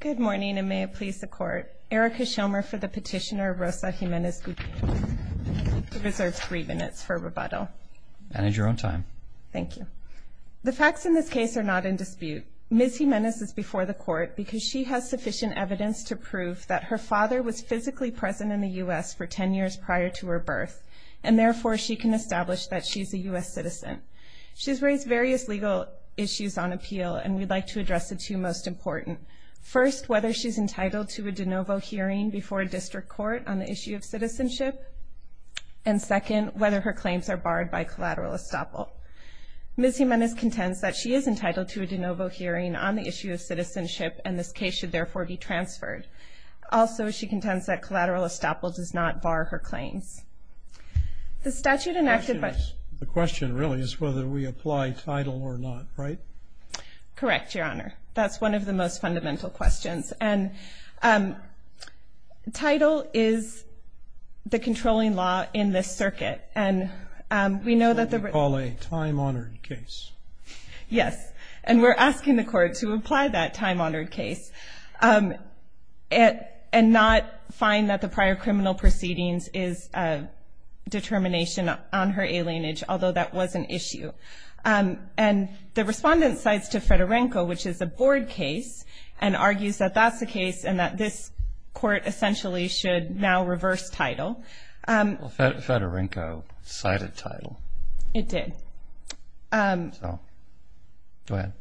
Good morning, and may it please the Court. Erica Shilmer for the petitioner Rosa Jimenez-Gudino, who reserves three minutes for rebuttal. Manage your own time. Thank you. The facts in this case are not in dispute. Ms. Jimenez is before the Court because she has sufficient evidence to prove that her father was physically present in the U.S. for ten years prior to her birth, and therefore she can establish that she is a U.S. citizen. She has raised various legal issues on appeal, and we'd like to address the two most important. First, whether she's entitled to a de novo hearing before a district court on the issue of citizenship, and second, whether her claims are barred by collateral estoppel. Ms. Jimenez contends that she is entitled to a de novo hearing on the issue of citizenship, and this case should therefore be transferred. Also, she contends that collateral estoppel does not bar her claims. The statute enacted by- The question really is whether we apply title or not, right? Correct, Your Honor. That's one of the most fundamental questions. And title is the controlling law in this circuit, and we know that the- What we call a time-honored case. Yes, and we're asking the Court to apply that time-honored case and not find that the prior criminal proceedings is a determination on her alienage, although that was an issue. And the respondent cites to Fedorenko, which is a board case, and argues that that's the case and that this Court essentially should now reverse title. Well, Fedorenko cited title. It did. So, go ahead.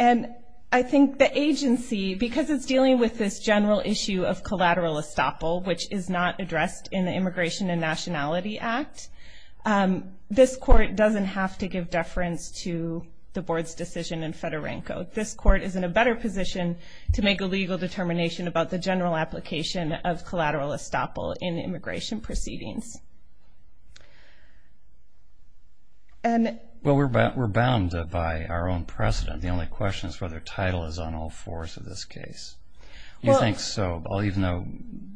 And I think the agency, because it's dealing with this general issue of collateral estoppel, which is not addressed in the Immigration and Nationality Act, this Court doesn't have to give deference to the board's decision in Fedorenko. This Court is in a better position to make a legal determination about the general application of collateral estoppel in immigration proceedings. Well, we're bound by our own precedent. The only question is whether title is on all fours of this case. You think so, even though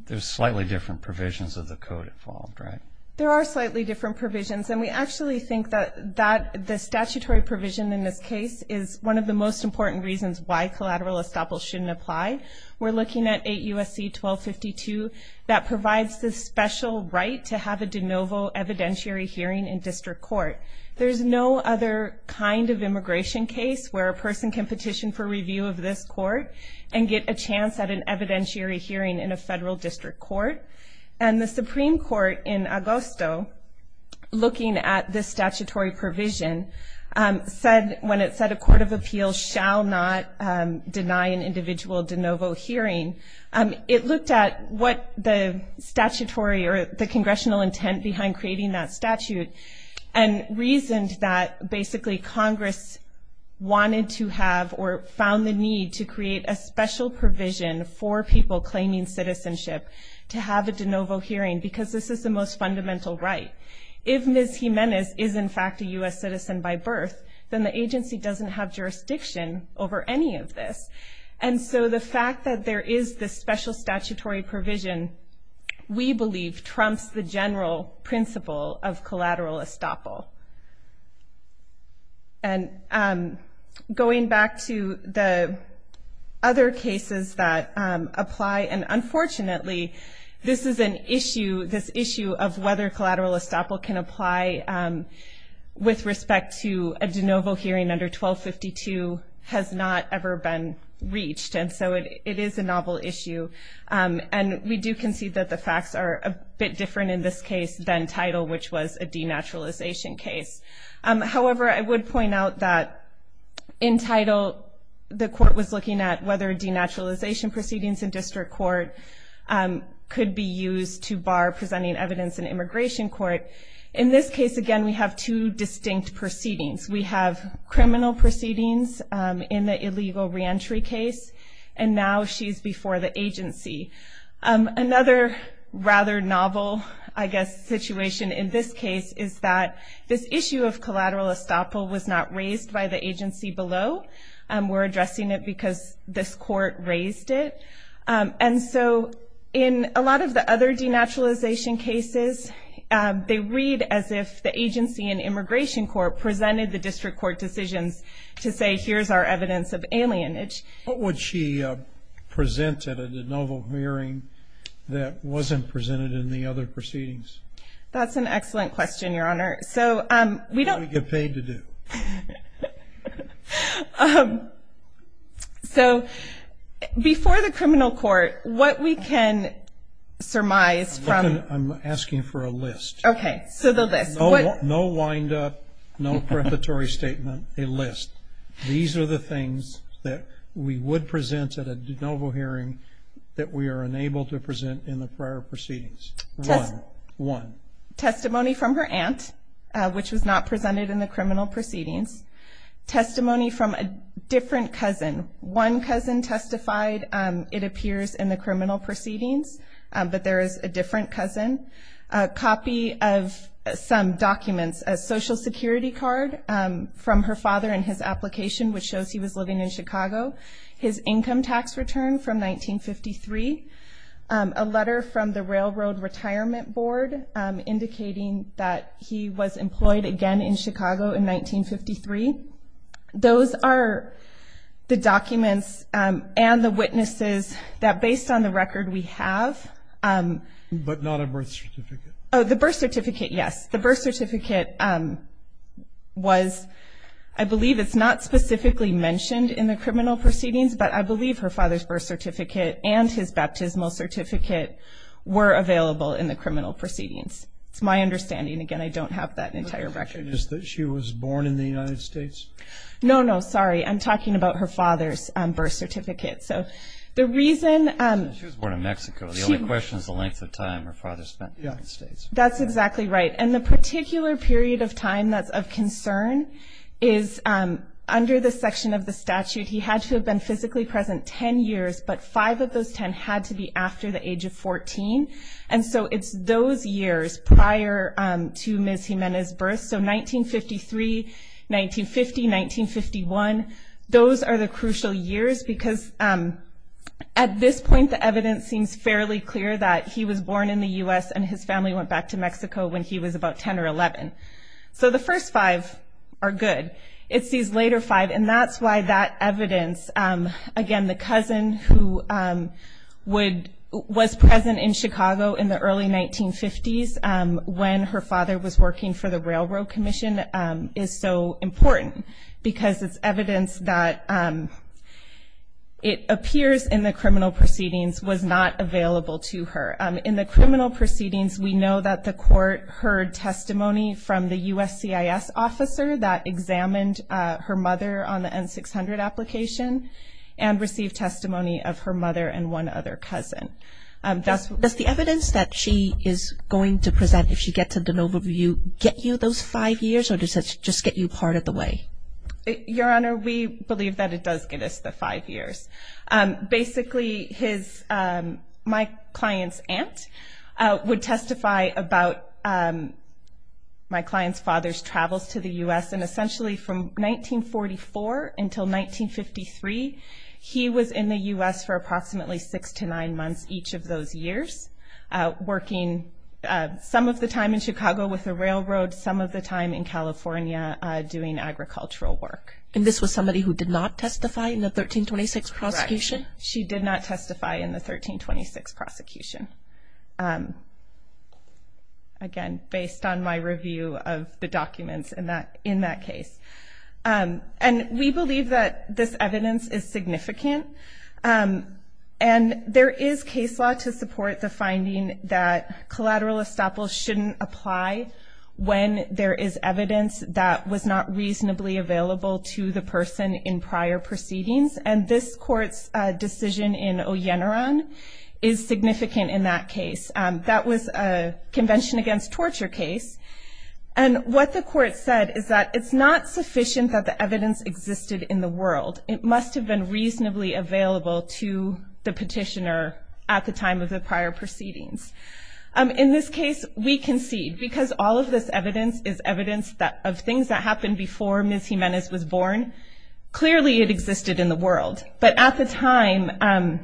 there's slightly different provisions of the Code involved, right? There are slightly different provisions, and we actually think that the statutory provision in this case is one of the most important reasons why collateral estoppel shouldn't apply. We're looking at 8 U.S.C. 1252. That provides the special right to have a de novo evidentiary hearing in district court. There's no other kind of immigration case where a person can petition for review of this court and get a chance at an evidentiary hearing in a federal district court. And the Supreme Court in Augusto, looking at this statutory provision, when it said a court of appeals shall not deny an individual de novo hearing, it looked at what the statutory or the congressional intent behind creating that statute and reasoned that basically Congress wanted to have or found the need to create a special provision for people claiming citizenship to have a de novo hearing because this is the most fundamental right. If Ms. Jimenez is, in fact, a U.S. citizen by birth, then the agency doesn't have jurisdiction over any of this. And so the fact that there is this special statutory provision, we believe, trumps the general principle of collateral estoppel. And going back to the other cases that apply, and unfortunately this is an issue, this issue of whether collateral estoppel can apply with respect to a de novo hearing under 1252 has not ever been reached, and so it is a novel issue. And we do concede that the facts are a bit different in this case than Title, which was a denaturalization case. However, I would point out that in Title the court was looking at whether denaturalization proceedings in district court could be used to bar presenting evidence in immigration court. In this case, again, we have two distinct proceedings. We have criminal proceedings in the illegal reentry case, and now she's before the agency. Another rather novel, I guess, situation in this case is that this issue of collateral estoppel was not raised by the agency below. We're addressing it because this court raised it. And so in a lot of the other denaturalization cases, they read as if the agency in immigration court presented the district court decisions to say, here's our evidence of alienage. What would she present at a de novo hearing that wasn't presented in the other proceedings? That's an excellent question, Your Honor. What do we get paid to do? So before the criminal court, what we can surmise from- I'm asking for a list. Okay, so the list. No wind-up, no preparatory statement, a list. These are the things that we would present at a de novo hearing that we are unable to present in the prior proceedings. One. Testimony from her aunt, which was not presented in the criminal proceedings. Testimony from a different cousin. One cousin testified. It appears in the criminal proceedings, but there is a different cousin. A copy of some documents, a Social Security card from her father and his application, which shows he was living in Chicago. His income tax return from 1953. A letter from the Railroad Retirement Board indicating that he was employed again in Chicago in 1953. Those are the documents and the witnesses that, based on the record we have- But not a birth certificate. Oh, the birth certificate, yes. The birth certificate was-I believe it's not specifically mentioned in the criminal proceedings, but I believe her father's birth certificate and his baptismal certificate were available in the criminal proceedings. It's my understanding. Again, I don't have that entire record. The question is that she was born in the United States? No, no, sorry. I'm talking about her father's birth certificate. So the reason- She was born in Mexico. The only question is the length of time her father spent in the United States. That's exactly right. And the particular period of time that's of concern is under the section of the statute, he had to have been physically present 10 years, but 5 of those 10 had to be after the age of 14. And so it's those years prior to Ms. Jimenez's birth. So 1953, 1950, 1951, those are the crucial years because at this point, the evidence seems fairly clear that he was born in the U.S. and his family went back to Mexico when he was about 10 or 11. So the first 5 are good. It's these later 5, and that's why that evidence, again, the cousin who was present in Chicago in the early 1950s when her father was working for the Railroad Commission is so important because it's evidence that it appears in the criminal proceedings was not available to her. In the criminal proceedings, we know that the court heard testimony from the USCIS officer that examined her mother on the N-600 application and received testimony of her mother and one other cousin. Does the evidence that she is going to present, if she gets an overview, get you those 5 years or does it just get you part of the way? Your Honor, we believe that it does get us the 5 years. Basically, my client's aunt would testify about my client's father's travels to the U.S. and essentially from 1944 until 1953, he was in the U.S. for approximately 6 to 9 months each of those years, working some of the time in Chicago with the railroad, some of the time in California doing agricultural work. And this was somebody who did not testify in the 1326 prosecution? Correct. She did not testify in the 1326 prosecution, again, based on my review of the documents in that case. And we believe that this evidence is significant, and there is case law to support the finding that collateral estoppel shouldn't apply when there is evidence that was not reasonably available to the person in prior proceedings. And this Court's decision in Oyenaran is significant in that case. That was a Convention Against Torture case. And what the Court said is that it's not sufficient that the evidence existed in the world. It must have been reasonably available to the petitioner at the time of the prior proceedings. In this case, we concede because all of this evidence is evidence of things that happened before Ms. Jimenez was born. Clearly it existed in the world. But at the time,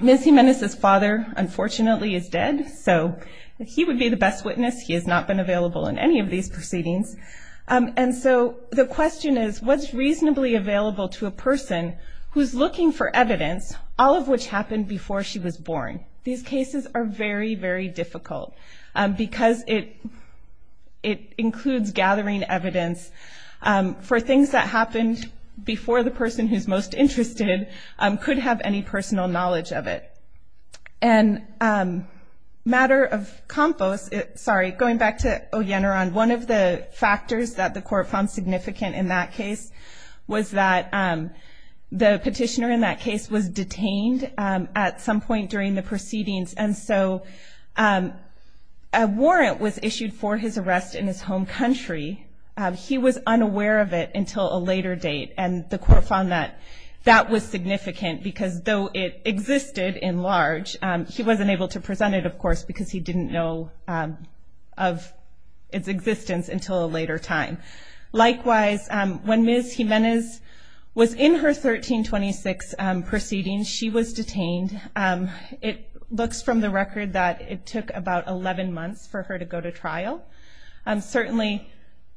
Ms. Jimenez's father, unfortunately, is dead, so he would be the best witness. He has not been available in any of these proceedings. And so the question is, what's reasonably available to a person who's looking for evidence, all of which happened before she was born? These cases are very, very difficult because it includes gathering evidence for things that happened before the person who's most interested could have any personal knowledge of it. And matter of compost, sorry, going back to Oyenaran, one of the factors that the Court found significant in that case was that the petitioner in that case was detained at some point during the proceedings, and so a warrant was issued for his arrest in his home country. He was unaware of it until a later date, and the Court found that that was significant because though it existed in large, he wasn't able to present it, of course, because he didn't know of its existence until a later time. Likewise, when Ms. Jimenez was in her 1326 proceedings, she was detained. It looks from the record that it took about 11 months for her to go to trial. Certainly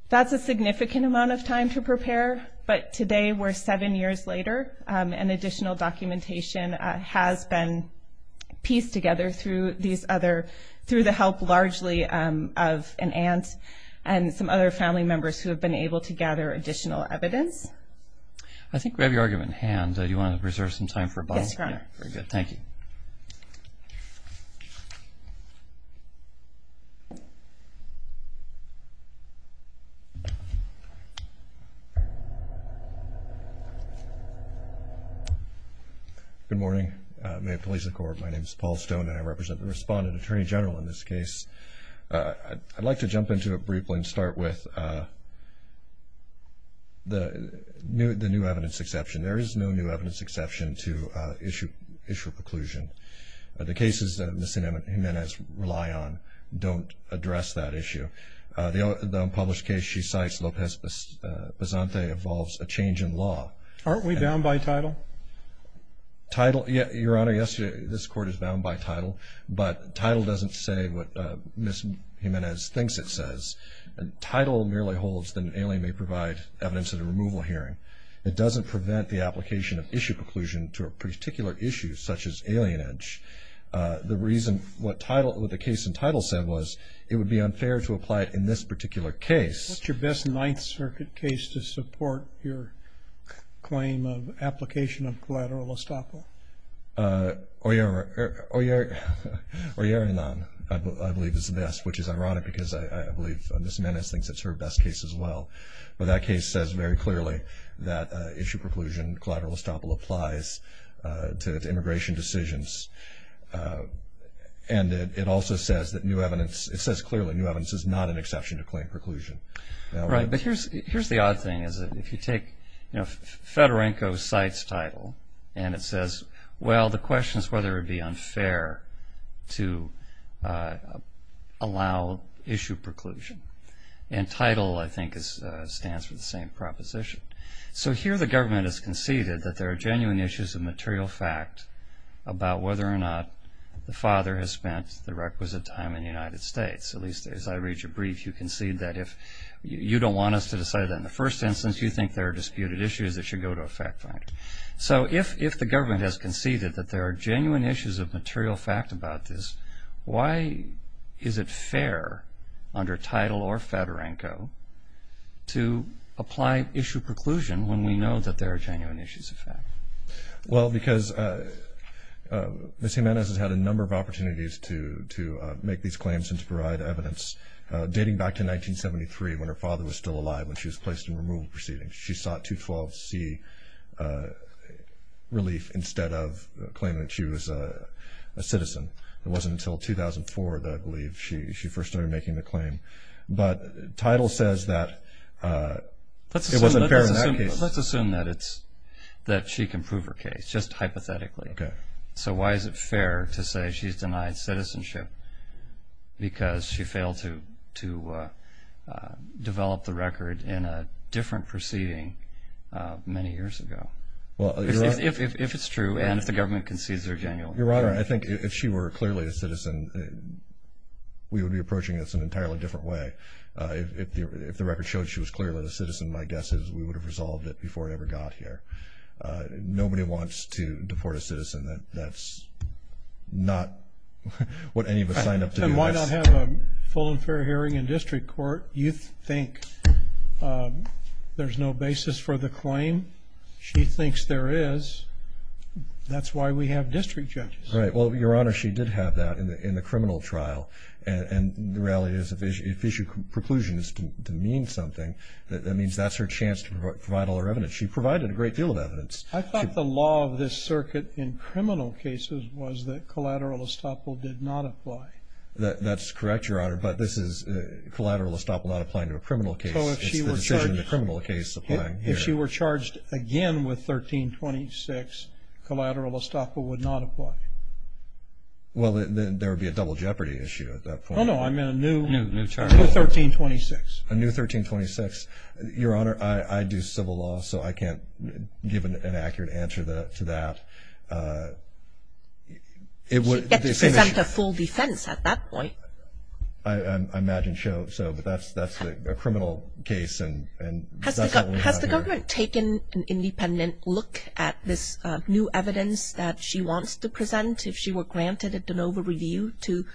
that's a significant amount of time to prepare, but today we're seven years later, and additional documentation has been pieced together through these other, through the help largely of an aunt and some other family members who have been able to gather additional evidence. I think we have your argument in hand. Do you want to reserve some time for a bottle? Yes, Your Honor. Very good. Thank you. Good morning. May it please the Court, my name is Paul Stone, and I represent the Respondent Attorney General in this case. I'd like to jump into it briefly and start with the new evidence exception. There is no new evidence exception to issue a preclusion. The cases that Ms. Jimenez rely on don't address that issue. The unpublished case she cites, Lopez-Basante, involves a change in law. Aren't we bound by title? Title? Your Honor, yes, this Court is bound by title, but title doesn't say what Ms. Jimenez thinks it says. Title merely holds that an alien may provide evidence at a removal hearing. It doesn't prevent the application of issue preclusion to a particular issue, such as alienage. The reason what the case in title said was it would be unfair to apply it in this particular case. What's your best Ninth Circuit case to support your claim of application of collateral estoppel? Oyerinan, I believe, is the best, which is ironic because I believe Ms. Jimenez thinks it's her best case as well. But that case says very clearly that issue preclusion, collateral estoppel, applies to immigration decisions. And it also says that new evidence, it says clearly new evidence is not an exception to claim preclusion. Right, but here's the odd thing, is that if you take Fedorenko cites title and it says, well, the question is whether it would be unfair to allow issue preclusion. And title, I think, stands for the same proposition. So here the government has conceded that there are genuine issues of material fact about whether or not the father has spent the requisite time in the United States. At least as I read your brief, you concede that if you don't want us to decide that in the first instance, you think there are disputed issues that should go to a fact finder. So if the government has conceded that there are genuine issues of material fact about this, why is it fair under title or Fedorenko to apply issue preclusion when we know that there are genuine issues of fact? Well, because Ms. Jimenez has had a number of opportunities to make these claims and to provide evidence dating back to 1973 when her father was still alive, when she was placed in removal proceedings. She sought 212C relief instead of claiming that she was a citizen. It wasn't until 2004, I believe, that she first started making the claim. Let's assume that she can prove her case, just hypothetically. Okay. So why is it fair to say she's denied citizenship because she failed to develop the record in a different proceeding many years ago? If it's true and if the government concedes there are genuine issues. Your Honor, I think if she were clearly a citizen, we would be approaching this in an entirely different way. If the record showed she was clearly a citizen, my guess is we would have resolved it before it ever got here. Nobody wants to deport a citizen. That's not what any of us signed up to do. Why not have a full and fair hearing in district court? You think there's no basis for the claim? She thinks there is. That's why we have district judges. Right. Well, Your Honor, she did have that in the criminal trial. And the reality is if issue preclusion is to mean something, that means that's her chance to provide all her evidence. She provided a great deal of evidence. I thought the law of this circuit in criminal cases was that collateral estoppel did not apply. That's correct, Your Honor. But this is collateral estoppel not applying to a criminal case. It's the decision of the criminal case applying here. If she were charged again with 1326, collateral estoppel would not apply. Well, then there would be a double jeopardy issue at that point. Oh, no. I mean a new 1326. A new 1326. Your Honor, I do civil law, so I can't give an accurate answer to that. She'd get to present a full defense at that point. I imagine so, but that's a criminal case. Has the government taken an independent look at this new evidence that she wants to present if she were granted a de novo review to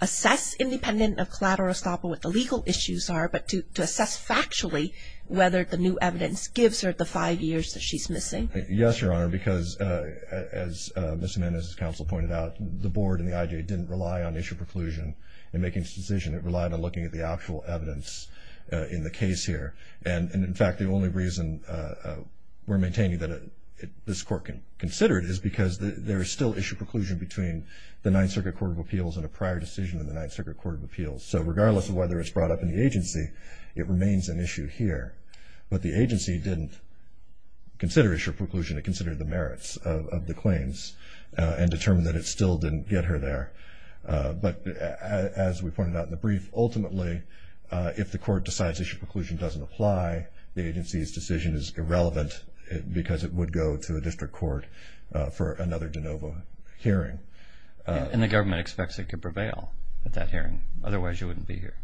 assess independent of collateral estoppel what the legal issues are, but to assess factually whether the new evidence gives her the five years that she's missing? Yes, Your Honor, because as Ms. Jimenez's counsel pointed out, the board and the IJ didn't rely on issue preclusion in making this decision. It relied on looking at the actual evidence in the case here. And, in fact, the only reason we're maintaining that this court can consider it is because there is still issue preclusion between the Ninth Circuit Court of Appeals and a prior decision in the Ninth Circuit Court of Appeals. So regardless of whether it's brought up in the agency, it remains an issue here. But the agency didn't consider issue preclusion. It considered the merits of the claims and determined that it still didn't get her there. But as we pointed out in the brief, ultimately, if the court decides issue preclusion doesn't apply, the agency's decision is irrelevant because it would go to a district court for another de novo hearing. And the government expects it to prevail at that hearing. Otherwise, you wouldn't be here.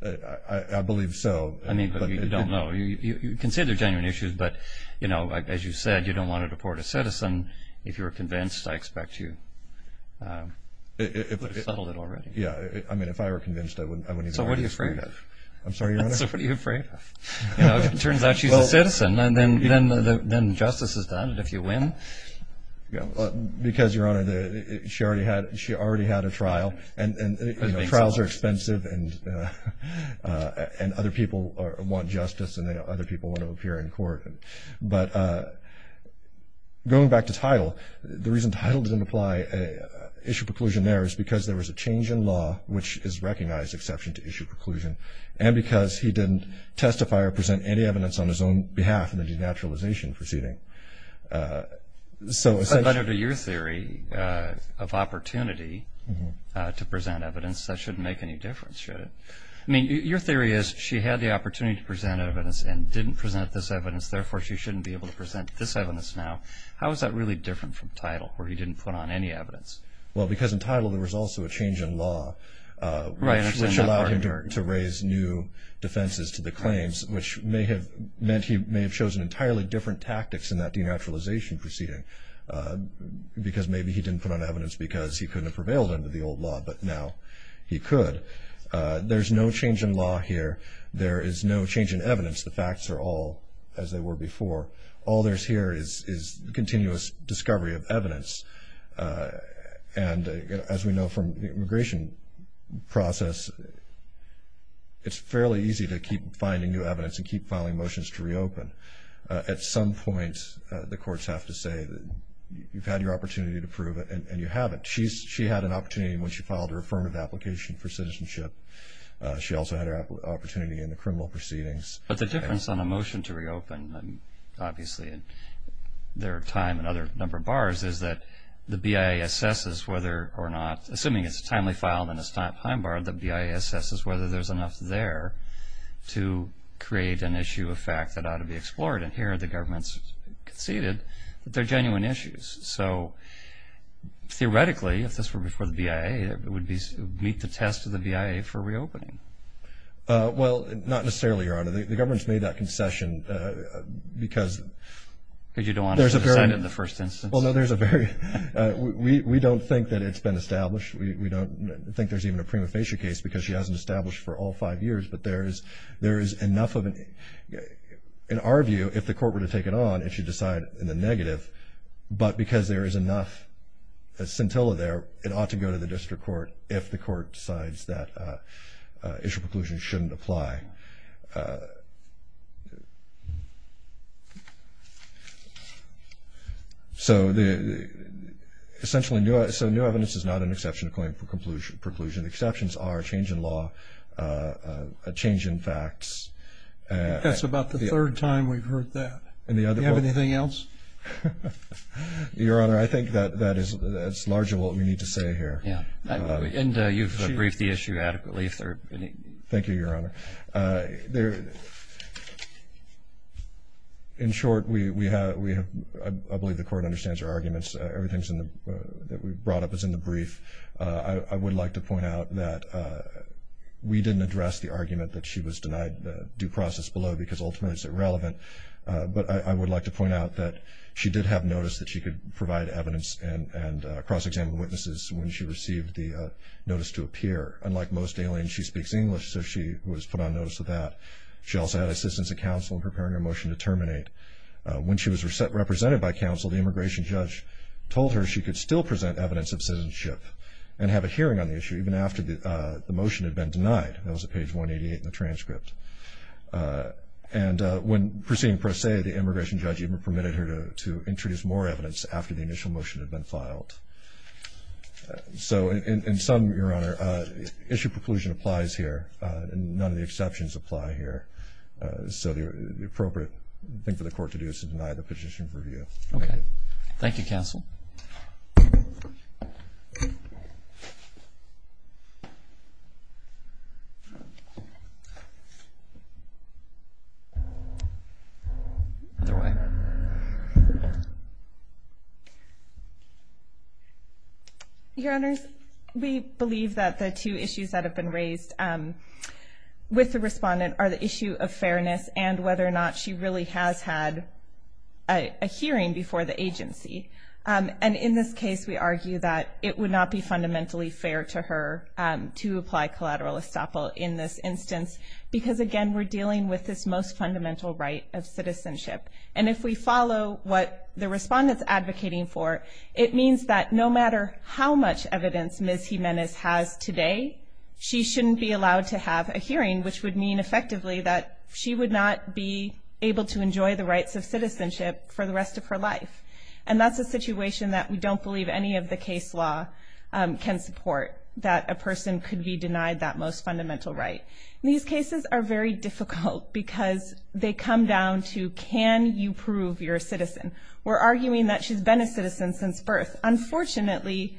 I believe so. I mean, but you don't know. You can say they're genuine issues, but, you know, as you said, you don't want to deport a citizen. If you were convinced, I expect you would have settled it already. I mean, if I were convinced, I wouldn't even ask for it. So what are you afraid of? I'm sorry, Your Honor? So what are you afraid of? You know, if it turns out she's a citizen, then justice is done. And if you win? Because, Your Honor, she already had a trial. And, you know, trials are expensive, and other people want justice, and other people want to appear in court. But going back to title, the reason title didn't apply, issue preclusion there, is because there was a change in law, which is recognized exception to issue preclusion, and because he didn't testify or present any evidence on his own behalf in the denaturalization proceeding. But under your theory of opportunity to present evidence, that shouldn't make any difference, should it? I mean, your theory is she had the opportunity to present evidence and didn't present this evidence, therefore she shouldn't be able to present this evidence now. How is that really different from title, where he didn't put on any evidence? Well, because in title there was also a change in law, which allowed him to raise new defenses to the claims, which may have meant he may have chosen entirely different tactics in that denaturalization proceeding, because maybe he didn't put on evidence because he couldn't have prevailed under the old law, but now he could. There's no change in law here. There is no change in evidence. The facts are all as they were before. All there is here is continuous discovery of evidence. And as we know from the immigration process, it's fairly easy to keep finding new evidence and keep filing motions to reopen. At some point, the courts have to say, you've had your opportunity to prove it and you haven't. She had an opportunity when she filed her affirmative application for citizenship. She also had her opportunity in the criminal proceedings. But the difference on a motion to reopen, obviously there are time and other number of bars, is that the BIA assesses whether or not, assuming it's a timely file and it's not time bar, the BIA assesses whether there's enough there to create an issue of fact that ought to be explored. And here the government's conceded that they're genuine issues. So theoretically, if this were before the BIA, it would meet the test of the BIA for reopening. Well, not necessarily, Your Honor. The government's made that concession because... Because you don't want her to sign it in the first instance. Well, no, there's a very... We don't think that it's been established. We don't think there's even a prima facie case because she hasn't established for all five years. But there is enough of an... In our view, if the court were to take it on, it should decide in the negative. But because there is enough scintilla there, it ought to go to the district court if the court decides that issue of preclusion shouldn't apply. So essentially new evidence is not an exception to claim for preclusion. Exceptions are a change in law, a change in facts. That's about the third time we've heard that. Do you have anything else? Your Honor, I think that's largely what we need to say here. And you've briefed the issue adequately. Thank you, Your Honor. In short, I believe the court understands her arguments. Everything that we've brought up is in the brief. I would like to point out that we didn't address the argument that she was denied due process below because ultimately it's irrelevant. But I would like to point out that she did have notice that she could provide evidence and cross-examined witnesses when she received the notice to appear. Unlike most aliens, she speaks English, so she was put on notice of that. She also had assistance of counsel in preparing a motion to terminate. When she was represented by counsel, the immigration judge told her she could still present evidence of citizenship and have a hearing on the issue even after the motion had been denied. That was at page 188 in the transcript. And when proceeding per se, the immigration judge even permitted her to introduce more evidence after the initial motion had been filed. So in sum, Your Honor, issue preclusion applies here. None of the exceptions apply here. So the appropriate thing for the court to do is to deny the petition for review. Okay. Thank you, counsel. Other way. Your Honors, we believe that the two issues that have been raised with the respondent are the issue of fairness and whether or not she really has had a hearing before the agency. And in this case, we argue that it would not be fundamentally fair to her to apply collateral estoppel in this instance because, again, we're dealing with this most fundamental right of citizenship. And if we follow what the respondent's advocating for, it means that no matter how much evidence Ms. Jimenez has today, she shouldn't be allowed to have a hearing, which would mean effectively that she would not be able to enjoy the rights of citizenship for the rest of her life. And that's a situation that we don't believe any of the case law can support, that a person could be denied that most fundamental right. These cases are very difficult because they come down to can you prove you're a citizen. We're arguing that she's been a citizen since birth. Unfortunately,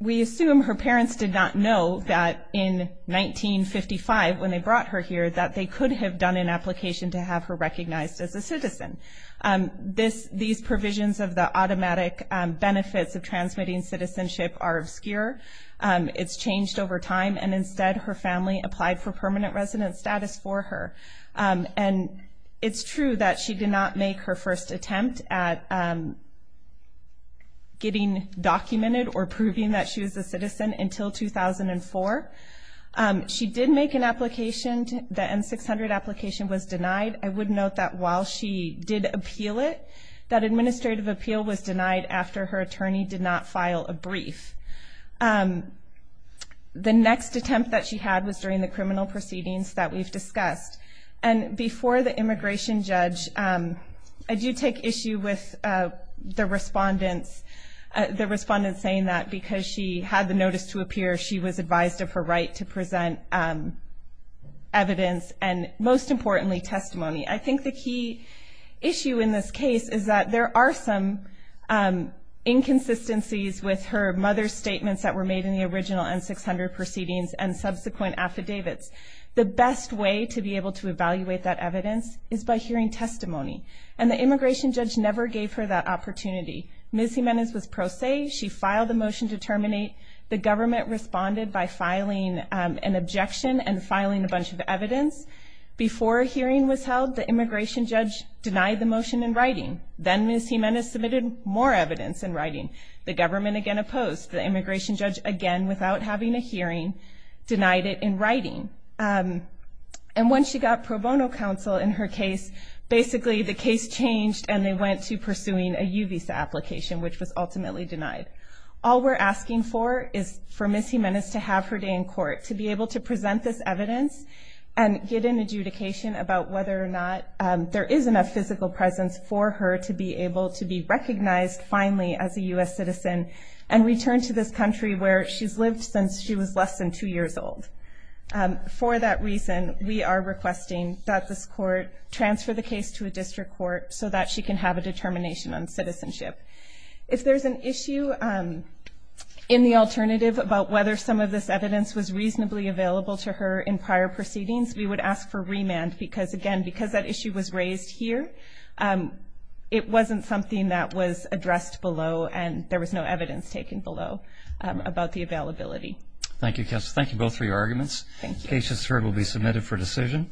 we assume her parents did not know that in 1955 when they brought her here that they could have done an application to have her recognized as a citizen. These provisions of the automatic benefits of transmitting citizenship are obscure. It's changed over time, and instead her family applied for permanent resident status for her. And it's true that she did not make her first attempt at getting documented or proving that she was a citizen until 2004. She did make an application. The M-600 application was denied. I would note that while she did appeal it, that administrative appeal was denied after her attorney did not file a brief. The next attempt that she had was during the criminal proceedings that we've discussed. And before the immigration judge, I do take issue with the respondents saying that because she had the notice to appear, she was advised of her right to present evidence and, most importantly, testimony. I think the key issue in this case is that there are some inconsistencies with her mother's statements that were made in the original M-600 proceedings and subsequent affidavits. The best way to be able to evaluate that evidence is by hearing testimony. And the immigration judge never gave her that opportunity. Ms. Jimenez was pro se. She filed the motion to terminate. The government responded by filing an objection and filing a bunch of evidence. Before a hearing was held, the immigration judge denied the motion in writing. Then Ms. Jimenez submitted more evidence in writing. The government again opposed. The immigration judge, again, without having a hearing, denied it in writing. And when she got pro bono counsel in her case, basically the case changed and they went to pursuing a U visa application, which was ultimately denied. All we're asking for is for Ms. Jimenez to have her day in court, to be able to present this evidence and get an adjudication about whether or not there is enough physical presence for her to be able to be recognized finally as a U.S. citizen and return to this country where she's lived since she was less than two years old. For that reason, we are requesting that this court transfer the case to a district court so that she can have a determination on citizenship. If there's an issue in the alternative about whether some of this evidence was reasonably available to her in prior proceedings, we would ask for remand because, again, because that issue was raised here, it wasn't something that was addressed below and there was no evidence taken below about the availability. Thank you, Counselor. Thank you both for your arguments. The case, as heard, will be submitted for decision.